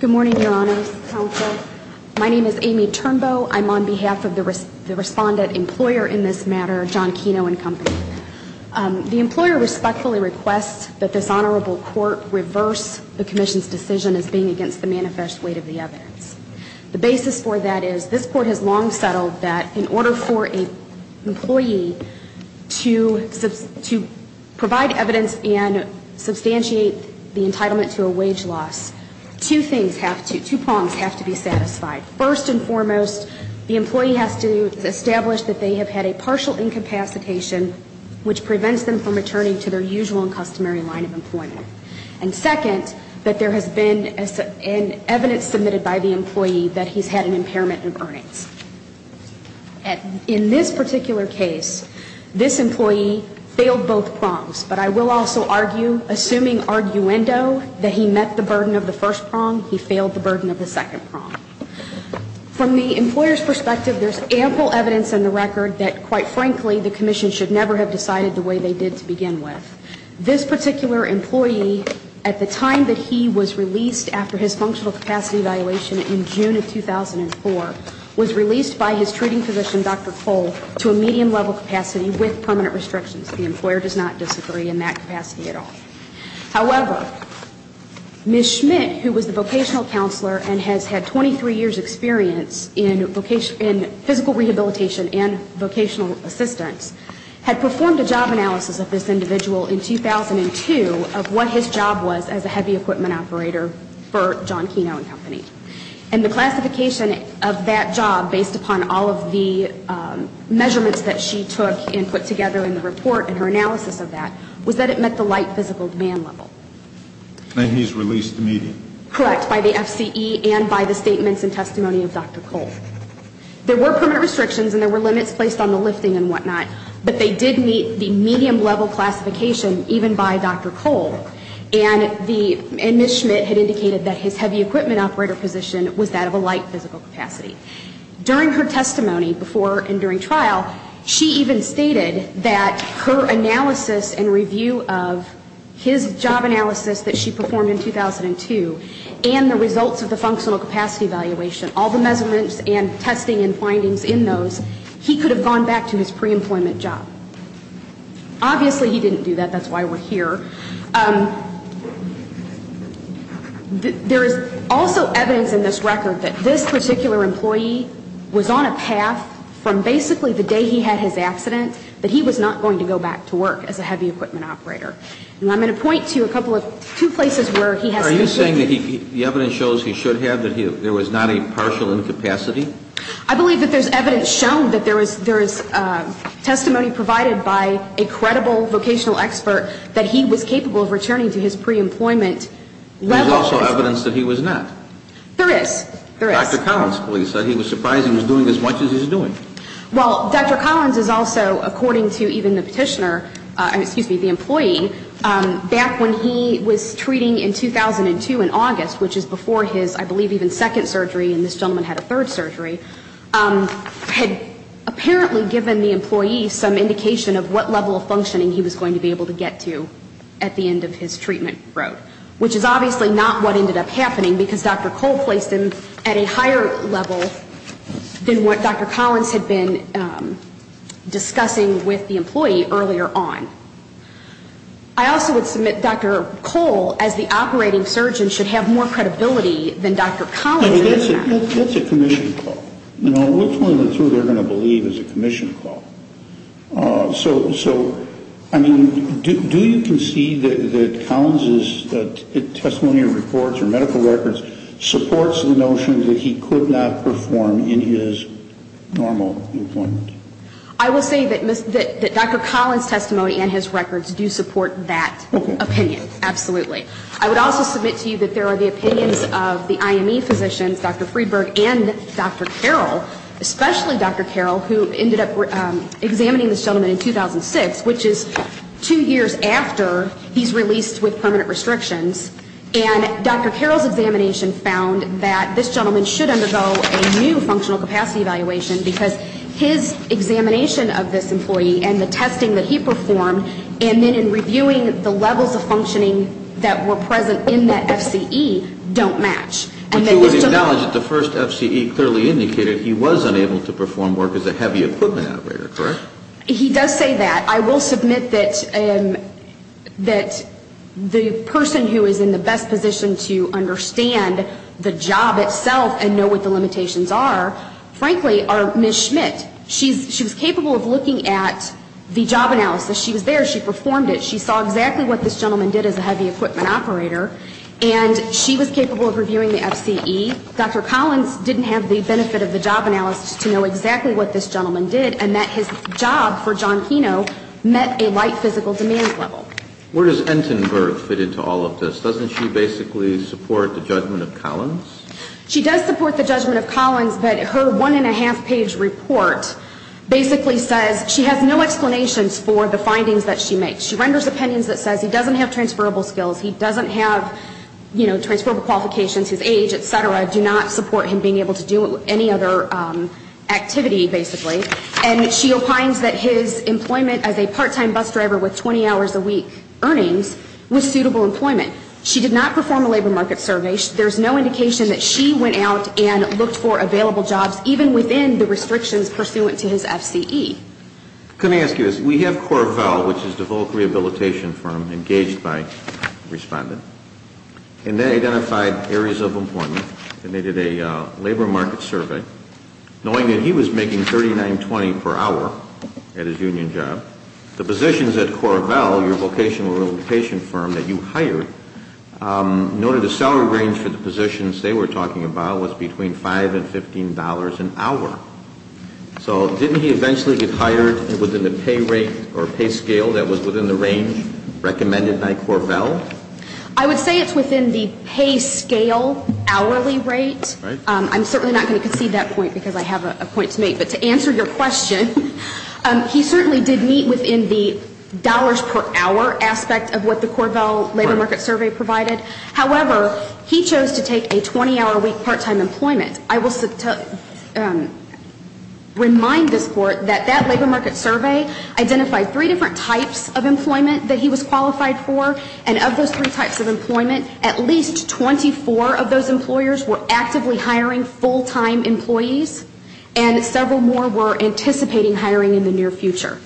Good morning, Your Honors, Counsel. My name is Amy Turnbow. I'm on behalf of the Respondent-Employer in this matter, John Keno and Company. The employer respectfully requests that this Honorable Court reverse the Commission's decision as being against the manifest weight of the evidence. The basis for that is this Court has long settled that in order for an employee to provide evidence and substantiate the entitlement to a wage loss, two things have to, two prongs have to be satisfied. First and foremost, the employee has to establish that they have had a partial incapacitation, which prevents them from returning to their usual and customary line of employment. And second, that there has been evidence submitted by the employee that he's had an impairment in earnings. In this particular case, this employee failed both prongs, but I will also argue, assuming arguendo, that he met the burden of the first prong, he failed the burden of the second prong. From the employer's perspective, there's ample evidence in the record that, quite frankly, the Commission should never have decided the way they did to begin with. This particular employee, at the time that he was released after his functional capacity evaluation in June of 2004, was released by his treating physician, Dr. Cole, to a medium level capacity with permanent restrictions. The employer does not disagree in that capacity at all. However, Ms. Schmidt, who was the vocational counselor and has had 23 years' experience in physical rehabilitation and vocational assistance, had performed a job analysis of this individual in 2002 of what his job was as a heavy equipment operator for John Keno and Company. And the classification of that job, based upon all of the measurements that she took and put together in the report and her analysis of that, was that it met the light physical demand level. And he's released immediately. Correct, by the FCE and by the statements and testimony of Dr. Cole. There were permanent restrictions and there were limits placed on the lifting and whatnot, but they did meet the medium level classification, even by Dr. Cole. And Ms. Schmidt had indicated that his heavy equipment operator position was that of a light physical capacity. During her testimony before and during trial, she even stated that her analysis and review of his job analysis that she performed in 2002 and the results of the functional capacity evaluation, all the measurements and testing and findings in those, he could have gone back to his pre-employment job. Obviously, he didn't do that. That's why we're here. There is also evidence in this record that this particular employee was on a path from basically the day he had his accident that he was not going to go back to work as a heavy equipment operator. And I'm going to point to a couple of, two places where he has completed. Are you saying that the evidence shows he should have, that there was not a partial incapacity? I believe that there's evidence shown that there is testimony provided by a credible vocational expert that he was capable of returning to his pre-employment level. There's also evidence that he was not. There is. There is. Dr. Collins, please, said he was surprised he was doing as much as he's doing. Well, Dr. Collins is also, according to even the petitioner, excuse me, the employee, back when he was treating in 2002 in August, which is before his, I believe, even second surgery, and this gentleman had a third surgery, had apparently given the employee some indication of what level of functioning he was going to be able to get to at the end of his treatment road, which is obviously not what ended up happening because Dr. Cole placed him at a higher level than what Dr. Collins had been discussing with the employee earlier on. I also would submit Dr. Cole, as the operating surgeon, should have more credibility than Dr. Collins. That's a commission call. You know, which one of the two they're going to believe is a commission call? So, I mean, do you concede that Collins' testimonial reports or medical records supports the notion that he could not perform in his normal employment? I will say that Dr. Collins' testimony and his records do support that opinion. Okay. Absolutely. I would also submit to you that there are the opinions of the IME physicians, Dr. Friedberg and Dr. Carroll, especially Dr. Carroll, who ended up examining this gentleman in 2006, which is two years after he's released with permanent restrictions, and Dr. Carroll's examination found that this gentleman should undergo a new functional capacity evaluation because his examination of this employee and the testing that he performed and then in reviewing the levels of functioning that were present in that FCE don't match. But you would acknowledge that the first FCE clearly indicated he was unable to perform work as a heavy equipment operator, correct? He does say that. I will submit that the person who is in the best position to understand the job itself and know what the limitations are, frankly, are Ms. Schmidt. She was capable of looking at the job analysis. She was there. She performed it. She saw exactly what this gentleman did as a heavy equipment operator, and she was capable of reviewing the FCE. Dr. Collins didn't have the benefit of the job analysis to know exactly what this gentleman did and that his job for John Keno met a light physical demand level. Where does Entenberg fit into all of this? Doesn't she basically support the judgment of Collins? She does support the judgment of Collins, but her one and a half page report basically says she has no explanations for the findings that she makes. She renders opinions that says he doesn't have transferable skills, he doesn't have, you know, transferable qualifications, his age, et cetera, do not support him being able to do any other activity, basically. And she opines that his employment as a part-time bus driver with 20 hours a week earnings was suitable employment. She did not perform a labor market survey. There's no indication that she went out and looked for available jobs even within the restrictions pursuant to his FCE. Let me ask you this. We have Coravell, which is the voc rehabilitation firm engaged by respondent, and they identified areas of employment, and they did a labor market survey knowing that he was making $39.20 per hour at his union job. The positions at Coravell, your vocational rehabilitation firm that you hired, noted the salary range for the positions they were talking about was between $5 and $15 an hour. So didn't he eventually get hired within the pay rate or pay scale that was within the range recommended by Coravell? I would say it's within the pay scale hourly rate. I'm certainly not going to concede that point because I have a point to make. But to answer your question, he certainly did meet within the dollars per hour aspect of what the Coravell labor market survey provided. However, he chose to take a 20-hour a week part-time employment. I will remind this Court that that labor market survey identified three different types of employment that he was qualified for, and of those three types of employment, at least 24 of those employers were actively hiring full-time employees and several more were anticipating hiring in the near future.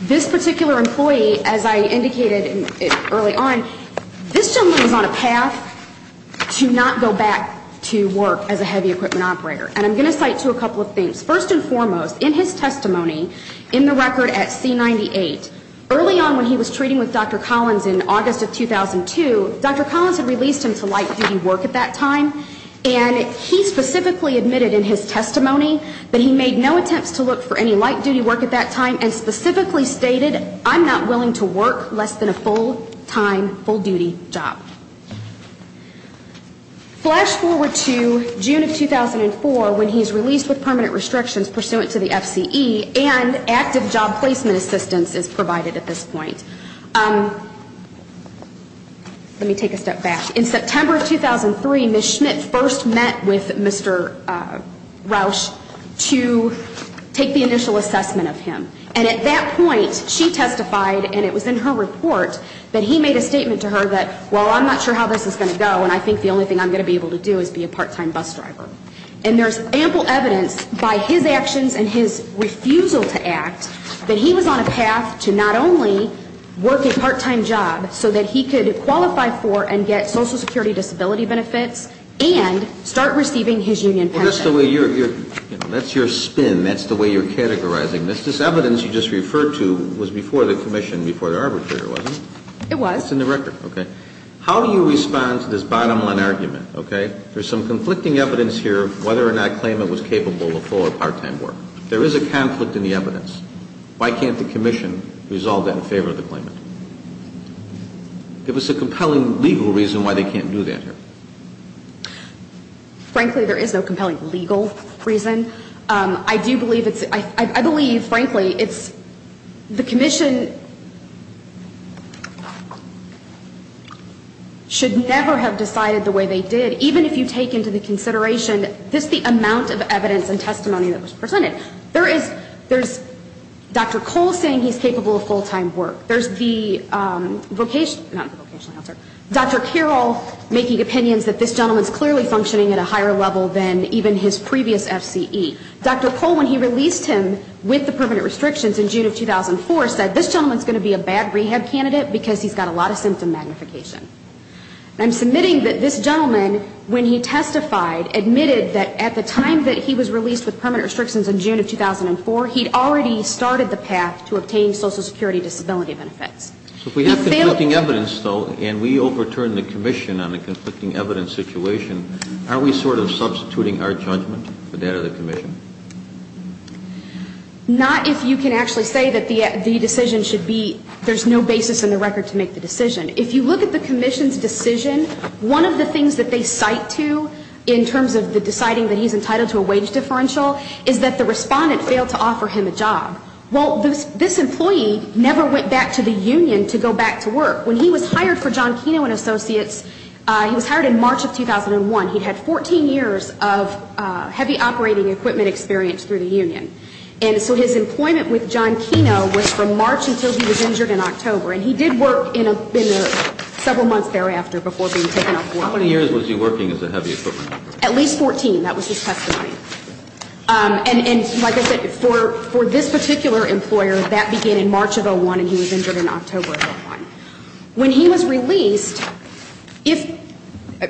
This particular employee, as I indicated early on, this gentleman was on a path to not go back to work as a heavy equipment operator. And I'm going to cite to you a couple of things. First and foremost, in his testimony in the record at C-98, early on when he was treating with Dr. Collins in August of 2002, Dr. Collins had released him to light-duty work at that time. And he specifically admitted in his testimony that he made no attempts to look for any light-duty work at that time and specifically stated, I'm not willing to work less than a full-time, full-duty job. Flash forward to June of 2004 when he's released with permanent restrictions pursuant to the FCE and active job placement assistance is provided at this point. Let me take a step back. In September of 2003, Ms. Schmidt first met with Mr. Rausch to take the initial assessment of him. And at that point, she testified, and it was in her report, that he made a statement to her that, well, I'm not sure how this is going to go and I think the only thing I'm going to be able to do is be a part-time bus driver. And there's ample evidence by his actions and his refusal to act that he was on a path to not only work a part-time job so that he could qualify for and get Social Security disability benefits and start receiving his union pension. That's the way you're, you know, that's your spin. That's the way you're categorizing this. This evidence you just referred to was before the commission, before the arbitrator, wasn't it? It was. It's in the record, okay. How do you respond to this bottom-line argument, okay? There's some conflicting evidence here of whether or not claimant was capable of full or part-time work. There is a conflict in the evidence. Why can't the commission resolve that in favor of the claimant? Give us a compelling legal reason why they can't do that here. Frankly, there is no compelling legal reason. I do believe it's, I believe, frankly, it's the commission should never have decided the way they did, even if you take into the consideration just the amount of evidence and testimony that was presented. There is, there's Dr. Cole saying he's capable of full-time work. There's the vocational, not the vocational counselor, Dr. Carroll making opinions that this gentleman is clearly functioning at a higher level than even his previous FCE. Dr. Cole, when he released him with the permanent restrictions in June of 2004, said this gentleman is going to be a bad rehab candidate because he's got a lot of symptom magnification. And I'm submitting that this gentleman, when he testified, admitted that at the time that he was released with permanent restrictions in June of 2004, he'd already started the path to obtain Social Security disability benefits. So if we have conflicting evidence, though, and we overturn the commission on a conflicting evidence situation, are we sort of substituting our judgment for that of the commission? Not if you can actually say that the decision should be, there's no basis in the record to make the decision. If you look at the commission's decision, one of the things that they cite to, in terms of the deciding that he's entitled to a wage differential, is that the respondent failed to offer him a job. Well, this employee never went back to the union to go back to work. When he was hired for John Keno and Associates, he was hired in March of 2001. He'd had 14 years of heavy operating equipment experience through the union. And so his employment with John Keno was from March until he was injured in October. And he did work in several months thereafter before being taken off work. How many years was he working as a heavy equipment worker? At least 14. That was his testimony. And like I said, for this particular employer, that began in March of 2001, and he was injured in October of 2001. When he was released, like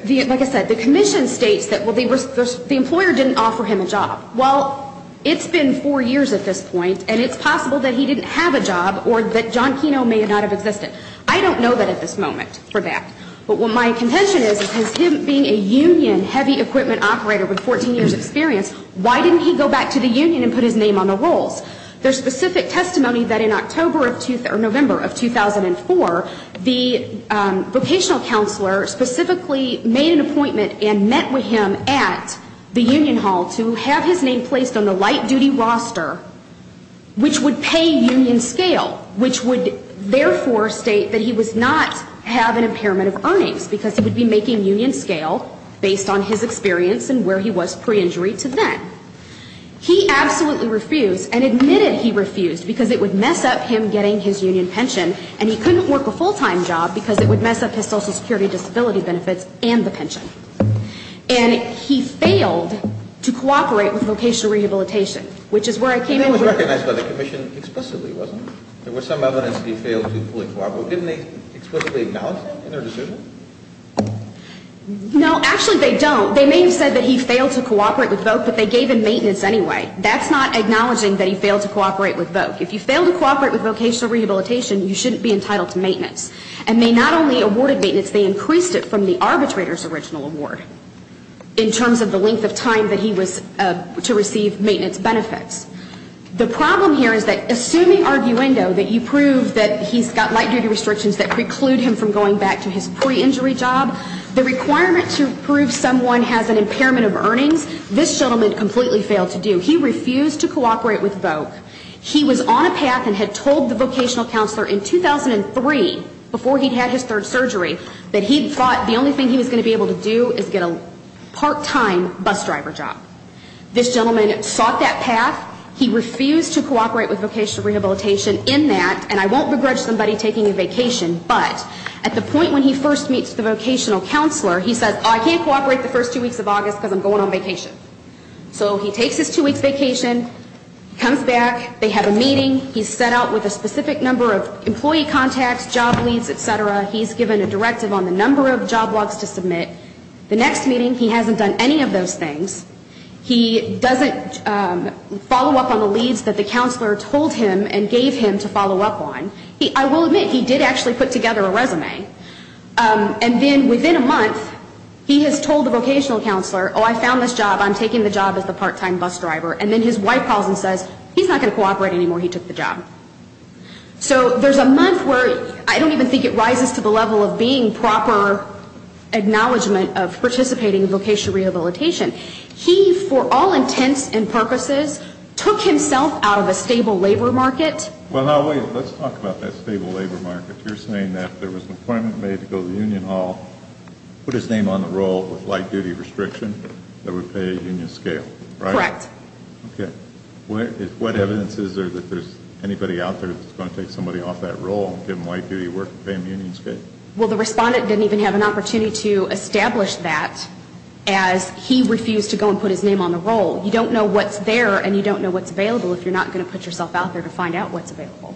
I said, the commission states that the employer didn't offer him a job. Well, it's been four years at this point, and it's possible that he didn't have a job or that John Keno may not have existed. I don't know that at this moment, for that. But what my contention is, is him being a union heavy equipment operator with 14 years' experience, why didn't he go back to the union and put his name on the rolls? There's specific testimony that in October or November of 2004, the vocational counselor specifically made an appointment and met with him at the union hall to have his name placed on the light-duty roster, which would pay union scale, which would therefore state that he was not having impairment of earnings, because he would be making union scale based on his experience and where he was pre-injury to then. He absolutely refused and admitted he refused because it would mess up him getting his union pension, and he couldn't work a full-time job because it would mess up his social security disability benefits and the pension. And he failed to cooperate with vocational rehabilitation, which is where I came in. And that was recognized by the commission explicitly, wasn't it? There was some evidence that he failed to fully cooperate. Didn't they explicitly acknowledge that in their decision? No. Actually, they don't. They may have said that he failed to cooperate with VOC, but they gave him maintenance anyway. That's not acknowledging that he failed to cooperate with VOC. If you fail to cooperate with vocational rehabilitation, you shouldn't be entitled to maintenance. And they not only awarded maintenance, they increased it from the arbitrator's original award, in terms of the length of time that he was to receive maintenance benefits. The problem here is that assuming arguendo that you prove that he's got light-duty restrictions that preclude him from going back to his pre-injury job, the requirement to prove someone has an impairment of earnings, this gentleman completely failed to do. He refused to cooperate with VOC. He was on a path and had told the vocational counselor in 2003, before he'd had his third surgery, that he thought the only thing he was going to be able to do is get a part-time bus driver job. This gentleman sought that path. He refused to cooperate with vocational rehabilitation in that, and I won't begrudge somebody taking a vacation, but at the point when he first meets the vocational counselor, he says, I can't cooperate the first two weeks of August because I'm going on vacation. So he takes his two weeks vacation, comes back, they have a meeting, he's set out with a specific number of employee contacts, job leads, et cetera. He's given a directive on the number of job logs to submit. The next meeting, he hasn't done any of those things. He doesn't follow up on the leads that the counselor told him and gave him to follow up on. And then within a month, he has told the vocational counselor, oh, I found this job, I'm taking the job as the part-time bus driver, and then his wife calls and says, he's not going to cooperate anymore, he took the job. So there's a month where I don't even think it rises to the level of being proper acknowledgement of participating in vocational rehabilitation. He, for all intents and purposes, took himself out of a stable labor market. Well, now, wait, let's talk about that stable labor market. You're saying that there was an appointment made to go to the union hall, put his name on the roll with light-duty restriction that would pay a union scale, right? Correct. Okay. What evidence is there that there's anybody out there that's going to take somebody off that role and give them light-duty work and pay them union scale? Well, the respondent didn't even have an opportunity to establish that as he refused to go and put his name on the roll. You don't know what's there and you don't know what's available if you're not going to put yourself out there to find out what's available.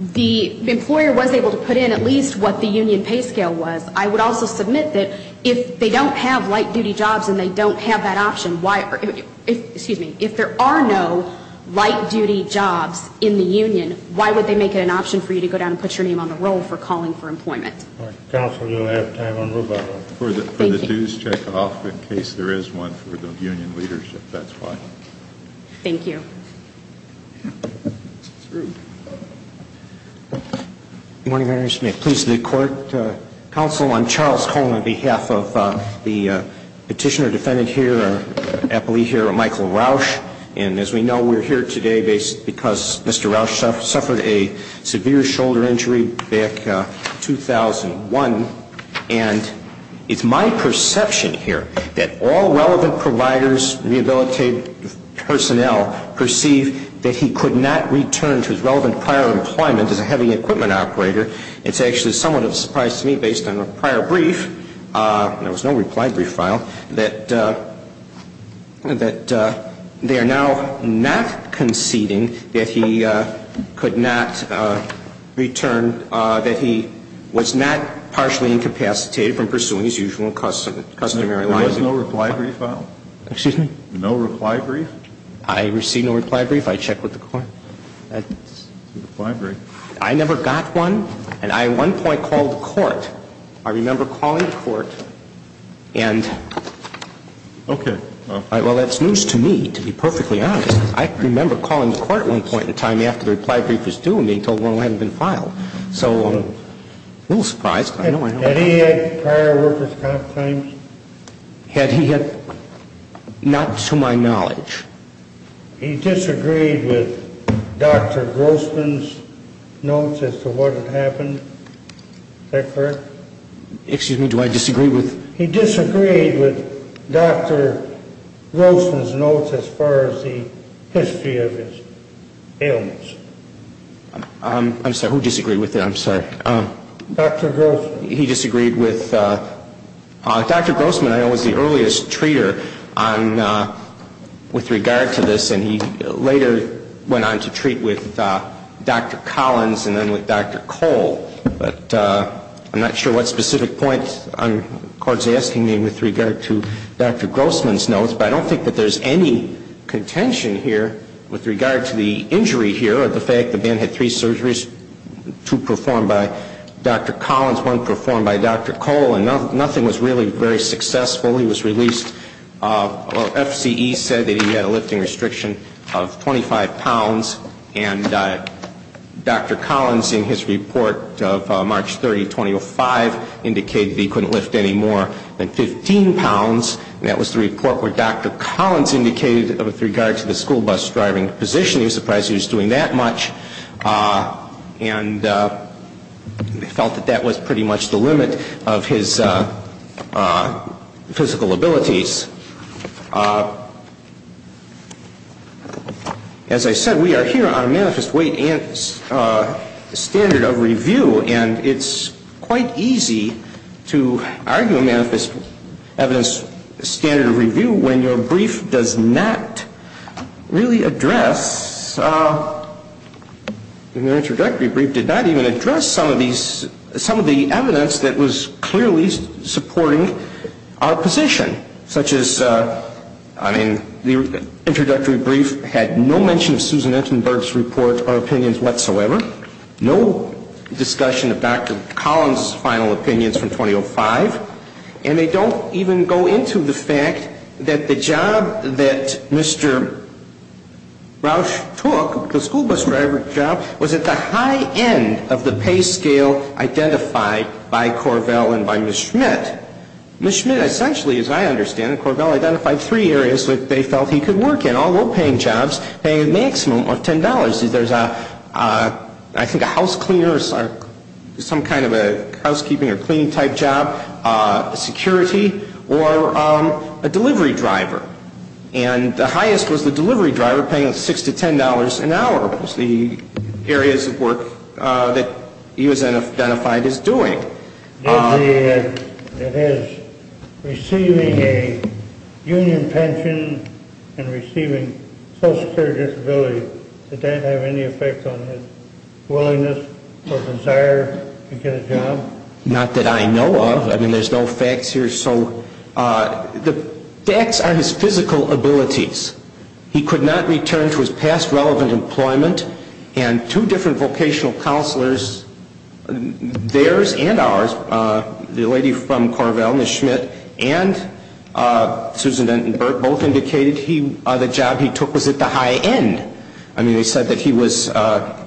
The employer was able to put in at least what the union pay scale was. I would also submit that if they don't have light-duty jobs and they don't have that option, if there are no light-duty jobs in the union, why would they make it an option for you to go down and put your name on the roll for calling for employment? Counsel, we don't have time. For the dues checkoff, in case there is one for the union leadership, that's fine. Thank you. Good morning, Madam Attorney. Please to the court. Counsel, I'm Charles Coleman on behalf of the petitioner defendant here, our appellee here, Michael Roush. And as we know, we're here today because Mr. Roush suffered a severe shoulder injury back in 2001. And it's my perception here that all relevant providers, rehabilitated personnel, perceive that he could not return to his relevant prior employment as a heavy equipment operator. It's actually somewhat of a surprise to me, based on a prior brief, there was no reply brief file, that they are now not conceding that he could not return, that he was not partially incapacitated from pursuing his usual customary life. There was no reply brief file? Excuse me? No reply brief? I received no reply brief. I checked with the court. I never got one. And I at one point called the court. I remember calling the court. And well, that's news to me, to be perfectly honest. I remember calling the court at one point in time after the reply brief was due, and they told me it hadn't been filed. So I'm a little surprised. Had he had prior workers' comp times? Had he had? Not to my knowledge. He disagreed with Dr. Grossman's notes as to what had happened? Is that correct? Excuse me? Do I disagree with? He disagreed with Dr. Grossman's notes as far as the history of his ailments. I'm sorry. Who disagreed with that? I'm sorry. Dr. Grossman. He disagreed with... Dr. Grossman, I know, was the earliest treater with regard to this, and he later went on to treat with Dr. Collins and then with Dr. Cole. But I'm not sure what specific point the court is asking me with regard to Dr. Grossman's notes, but I don't think that there's any contention here with regard to the injury here or the fact the man had three surgeries, two performed by Dr. Collins, one performed by Dr. Cole, and nothing was really very successful. He was released. FCE said that he had a lifting restriction of 25 pounds, and Dr. Collins in his report of March 30, 2005, indicated he couldn't lift any more than 15 pounds, and that was the report where Dr. Collins indicated with regard to the school bus driving position, he was surprised he was doing that much, and felt that that was pretty much the limit of his physical abilities. As I said, we are here on a manifest weight and standard of review, and it's quite easy to argue a manifest evidence standard of review when your brief does not really address, and your introductory brief did not even address some of the evidence that was clearly supporting our position, such as, I mean, the introductory brief had no mention of Susan Entenberg's report or opinions whatsoever, no discussion of Dr. Collins' final opinions from 2005, and they don't even go into the fact that the job that Mr. Rausch took, the school bus driver job, was at the high end of the pay scale identified by Corvell and by Ms. Schmidt. Ms. Schmidt essentially, as I understand it, Corvell identified three areas that they felt he could work in, all low-paying jobs paying a maximum of $10. There's, I think, a house cleaner, some kind of a housekeeping or cleaning type job, security, or a delivery driver. And the highest was the delivery driver paying $6 to $10 an hour was the areas of work that he was identified as doing. Did his receiving a union pension and receiving social security disability, did that have any effect on his willingness or desire to get a job? Not that I know of. I mean, there's no facts here. So the facts are his physical abilities. He could not return to his past relevant employment, and two different vocational counselors, theirs and ours, the lady from Corvell, Ms. Schmidt, and Susan Denton-Burke, both indicated the job he took was at the high end. I mean, they said that he was at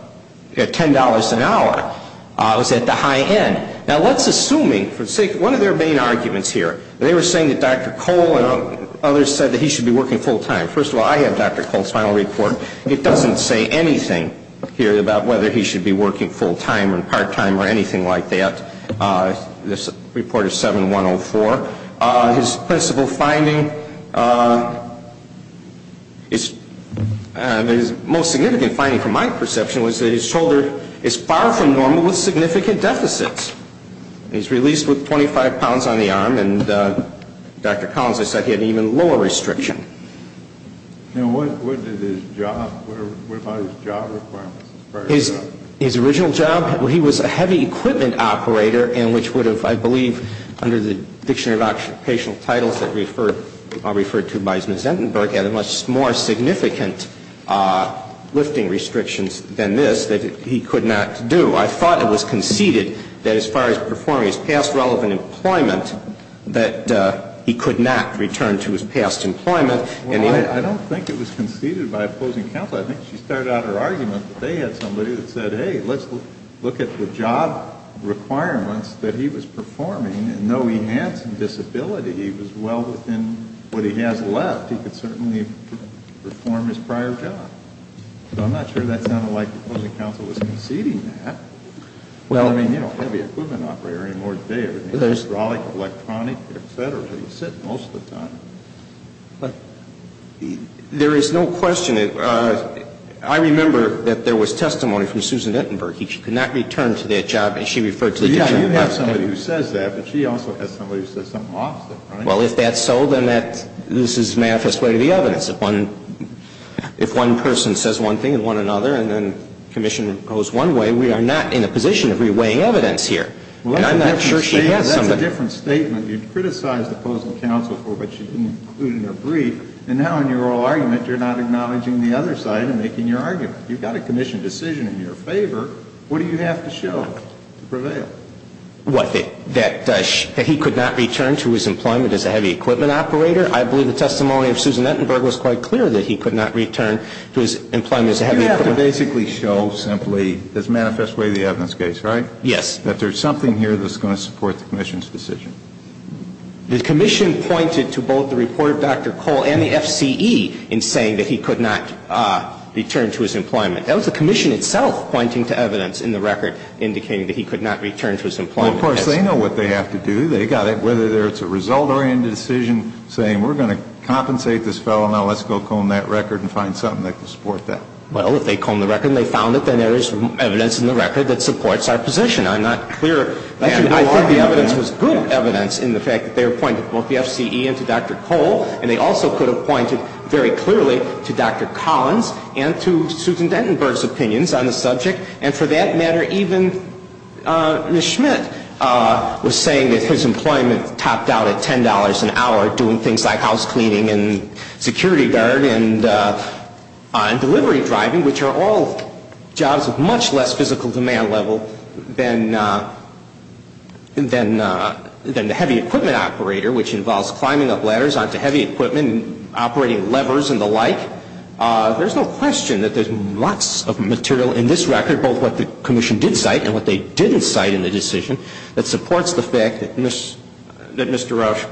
$10 an hour, was at the high end. Now, let's assume, for the sake of, one of their main arguments here, they were saying that Dr. Cole and others said that he should be working full-time. First of all, I have Dr. Cole's final report. It doesn't say anything here about whether he should be working full-time or part-time or anything like that. This report is 7-104. His principal finding, his most significant finding from my perception, was that his shoulder is far from normal with significant deficits. He's released with 25 pounds on the arm, and Dr. Collins has said he had an even lower restriction. Now, what did his job, what about his job requirements? His original job, he was a heavy equipment operator, and which would have, I believe, under the Dictionary of Occupational Titles that are referred to by Ms. Denton-Burke, had a much more significant lifting restrictions than this that he could not do. I thought it was conceded that as far as performing his past relevant employment, that he could not return to his past employment. Well, I don't think it was conceded by a closing counsel. I think she started out her argument that they had somebody that said, hey, let's look at the job requirements that he was performing, and though he had some disability, he was well within what he has left. He could certainly perform his prior job. So I'm not sure that sounded like the closing counsel was conceding that. I mean, you know, heavy equipment operator anymore today. Hydraulic, electronic, etc. sit most of the time. There is no question. I remember that there was testimony from Susan Denton-Burke. She could not return to that job, and she referred to the Dictionary of Occupational Titles. You have somebody who says that, but she also has somebody who says something opposite, right? Well, if that's so, then this is manifest way to the evidence. If one person says one thing and one another, and then commission goes one way, we are not in a position of reweighing evidence here. And I'm not sure she has somebody. Well, that's a different statement. You've criticized the closing counsel for what she didn't include in her brief, and now in your oral argument you're not acknowledging the other side and making your argument. You've got a commission decision in your favor. What do you have to show to prevail? What? That he could not return to his employment as a heavy equipment operator? I believe the testimony of Susan Denton-Burke was quite clear that he could not return to his employment as a heavy equipment operator. You have to basically show simply, as manifest way to the evidence case, right? Yes. That there's something here that's going to support the commission's decision. The commission pointed to both the report of Dr. Cole and the FCE in saying that he could not return to his employment. That was the commission itself pointing to evidence in the record indicating that he could not return to his employment. Well, of course, they know what they have to do. They've got to, whether it's a result-oriented decision saying we're going to compensate this fellow, now let's go comb that record and find something that can support that. Well, if they comb the record and they found it, then there is evidence in the record that supports our position. I'm not clear. I think the evidence was good evidence in the fact that they were pointing to both the FCE and to Dr. Cole, and they also could have pointed very clearly to Dr. Collins and to Susan Denton-Burke's opinions on the subject. And for that matter, even Ms. Schmidt was saying that his employment topped out at $10 an hour doing things like house cleaning and security guard and delivery driving, which are all jobs of much less physical demand level than the heavy equipment operator, which involves climbing up ladders onto heavy equipment and operating levers and the like. There's no question that there's lots of material in this record, both what the Commission did cite and what they didn't cite in the decision, that supports the fact that Mr. Rauch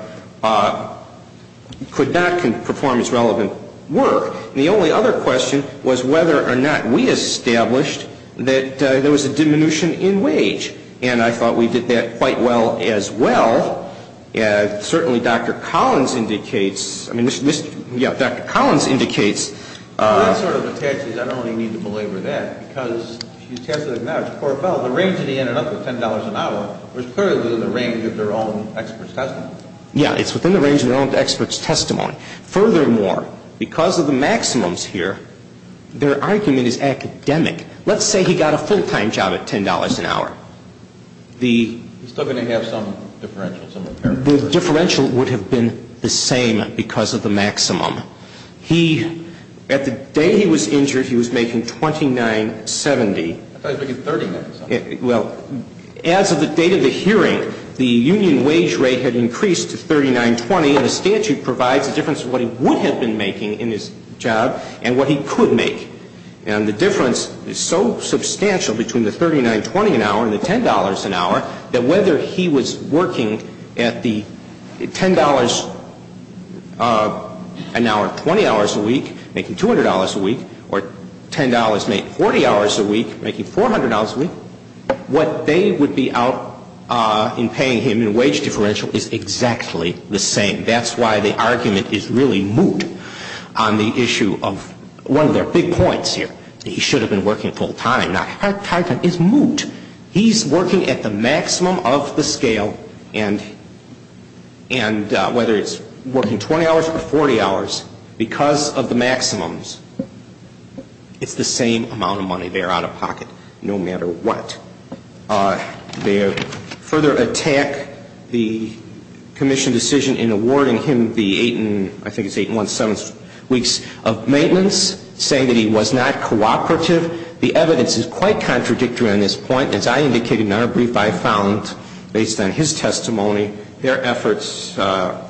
could not perform his relevant work. And the only other question was whether or not we established that there was a diminution in wage, and I thought we did that quite well as well. Certainly, Dr. Collins indicates, I mean, yeah, Dr. Collins indicates. That sort of attaches, I don't really need to belabor that, because if you test it now, it's poor fellow. The range that he ended up with, $10 an hour, was clearly within the range of their own expert's testimony. Yeah, it's within the range of their own expert's testimony. Furthermore, because of the maximums here, their argument is academic. Let's say he got a full-time job at $10 an hour. He's still going to have some differential, some impairment. The differential would have been the same because of the maximum. He, at the day he was injured, he was making $29.70. I thought he was making $39.70. Well, as of the date of the hearing, the union wage rate had increased to $39.20, and the statute provides a difference of what he would have been making in his job and what he could make. And the difference is so substantial between the $39.20 an hour and the $10 an hour that whether he was working at the $10 an hour 20 hours a week, making $200 a week, or $10 made 40 hours a week, making $400 a week, what they would be out in paying him in wage differential is exactly the same. That's why the argument is really moot on the issue of one of their big points here, that he should have been working full-time. Now, her argument is moot. He's working at the maximum of the scale, and whether it's working 20 hours or 40 hours, because of the maximums, it's the same amount of money they're out of pocket no matter what. Now, they further attack the commission decision in awarding him the eight and I think it's eight and one-seventh weeks of maintenance, saying that he was not cooperative. The evidence is quite contradictory on this point. As I indicated in our brief, I found, based on his testimony, their efforts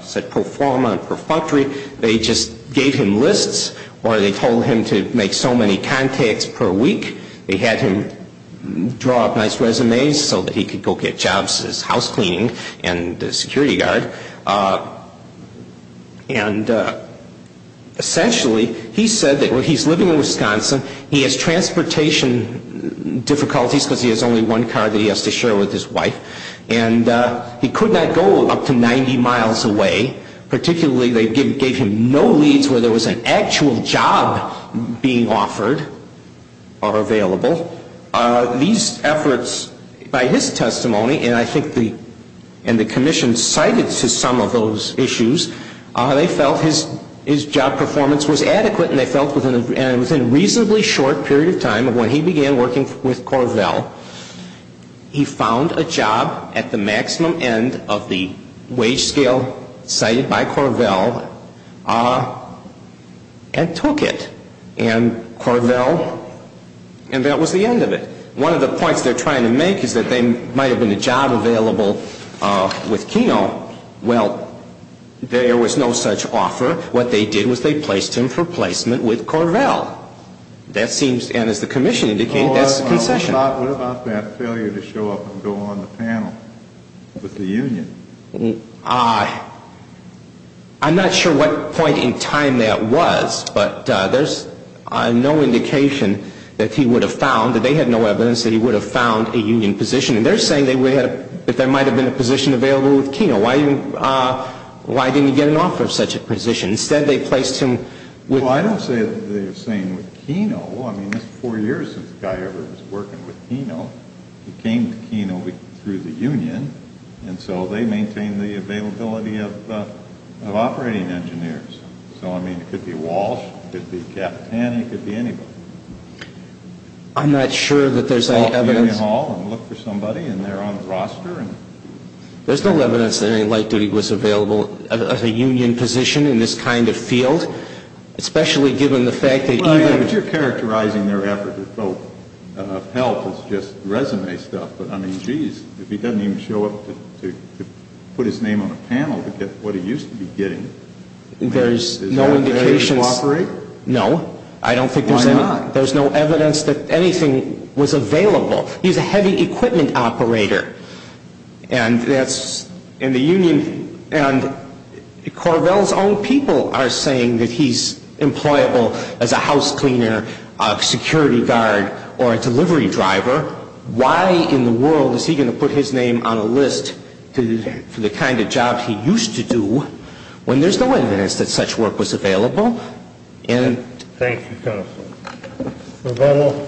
said pro forma and pro functore. They just gave him lists, or they told him to make so many contacts per week, they had him draw up nice resumes so that he could go get jobs as house cleaning and security guard. Essentially, he said that he's living in Wisconsin, he has transportation difficulties because he has only one car that he has to share with his wife, and he could not go up to 90 miles away. Particularly, they gave him no leads where there was an actual job being offered or available. These efforts, by his testimony, and I think the commission cited to some of those issues, they felt his job performance was adequate and they felt within a reasonably short period of time of when he began working with Corvell, he found a job at the maximum end of the wage scale cited by Corvell and took it. And Corvell, and that was the end of it. One of the points they're trying to make is that there might have been a job available with Keno. Well, there was no such offer. What they did was they placed him for placement with Corvell. That seems, and as the commission indicated, that's a concession. What about that failure to show up and go on the panel with the union? I'm not sure what point in time that was, but there's no indication that he would have found, that they had no evidence, that he would have found a union position. And they're saying that there might have been a position available with Keno. Why didn't he get an offer of such a position? Instead, they placed him with… Well, I don't say they were saying with Keno. I mean, that's four years since a guy ever was working with Keno. He came to Keno through the union, and so they maintained the availability of operating engineers. So, I mean, it could be Walsh, it could be Capitani, it could be anybody. I'm not sure that there's any evidence… …call the union hall and look for somebody, and they're on the roster. There's no evidence that any light duty was available as a union position in this kind of field, especially given the fact that even… I mean, but you're characterizing their effort with both. Help is just resume stuff, but, I mean, geez, if he doesn't even show up to put his name on a panel to get what he used to be getting… There's no indication… …is there a way to cooperate? No. I don't think there's any… Why not? There's no evidence that anything was available. He's a heavy equipment operator, and that's in the union, and Corvell's own people are saying that he's employable as a house cleaner, a security guard, or a delivery driver. Why in the world is he going to put his name on a list for the kind of job he used to do when there's no evidence that such work was available? Thank you, counsel. Revelle?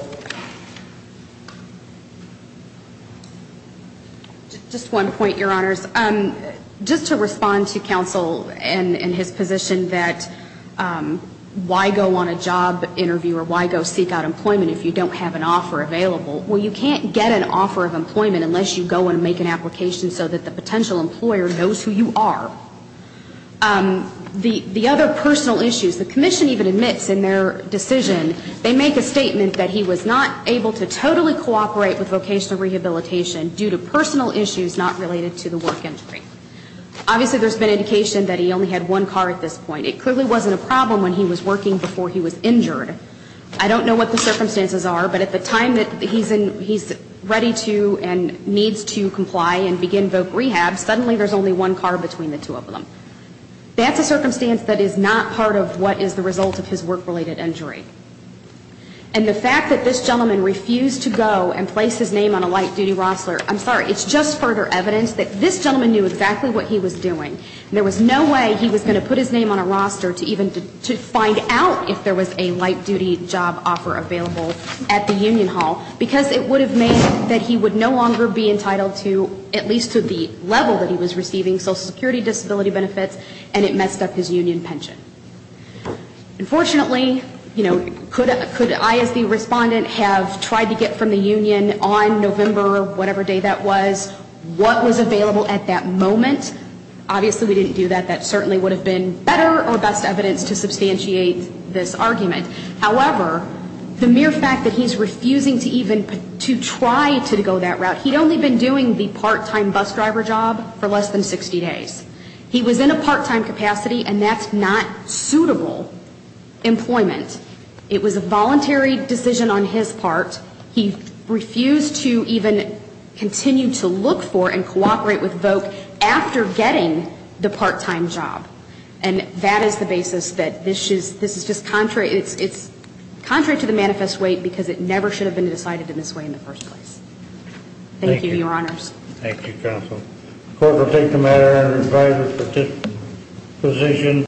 Just one point, Your Honors. Just to respond to counsel in his position that why go on a job interview or why go seek out employment if you don't have an offer available? Well, you can't get an offer of employment unless you go and make an application so that the potential employer knows who you are. The other personal issues, the commission even admits in their decision, they make a statement that he was not able to totally cooperate with vocational rehabilitation due to personal issues not related to the work injury. Obviously, there's been indication that he only had one car at this point. It clearly wasn't a problem when he was working before he was injured. I don't know what the circumstances are, but at the time that he's ready to and needs to comply and begin voc rehab, suddenly there's only one car between the two of them. That's a circumstance that is not part of what is the result of his work-related injury. And the fact that this gentleman refused to go and place his name on a light-duty roster, I'm sorry, it's just further evidence that this gentleman knew exactly what he was doing. There was no way he was going to put his name on a roster to even find out if there was a light-duty job offer available at the union hall, because it would have made that he would no longer be entitled to, at least to the level that he was receiving social security disability benefits, and it messed up his union pension. Unfortunately, you know, could I as the respondent have tried to get from the union on November whatever day that was, what was available at that moment? Obviously we didn't do that. That certainly would have been better or best evidence to substantiate this argument. However, the mere fact that he's refusing to even to try to go that route, he'd only been doing the part-time bus driver job for less than 60 days. He was in a part-time capacity, and that's not suitable employment. It was a voluntary decision on his part. He refused to even continue to look for and cooperate with VOC after getting the part-time job. And that is the basis that this is just contrary, it's contrary to the manifest weight because it never should have been decided in this way in the first place. Thank you, Your Honors. Thank you, Counsel. The court will take the matter under revised position.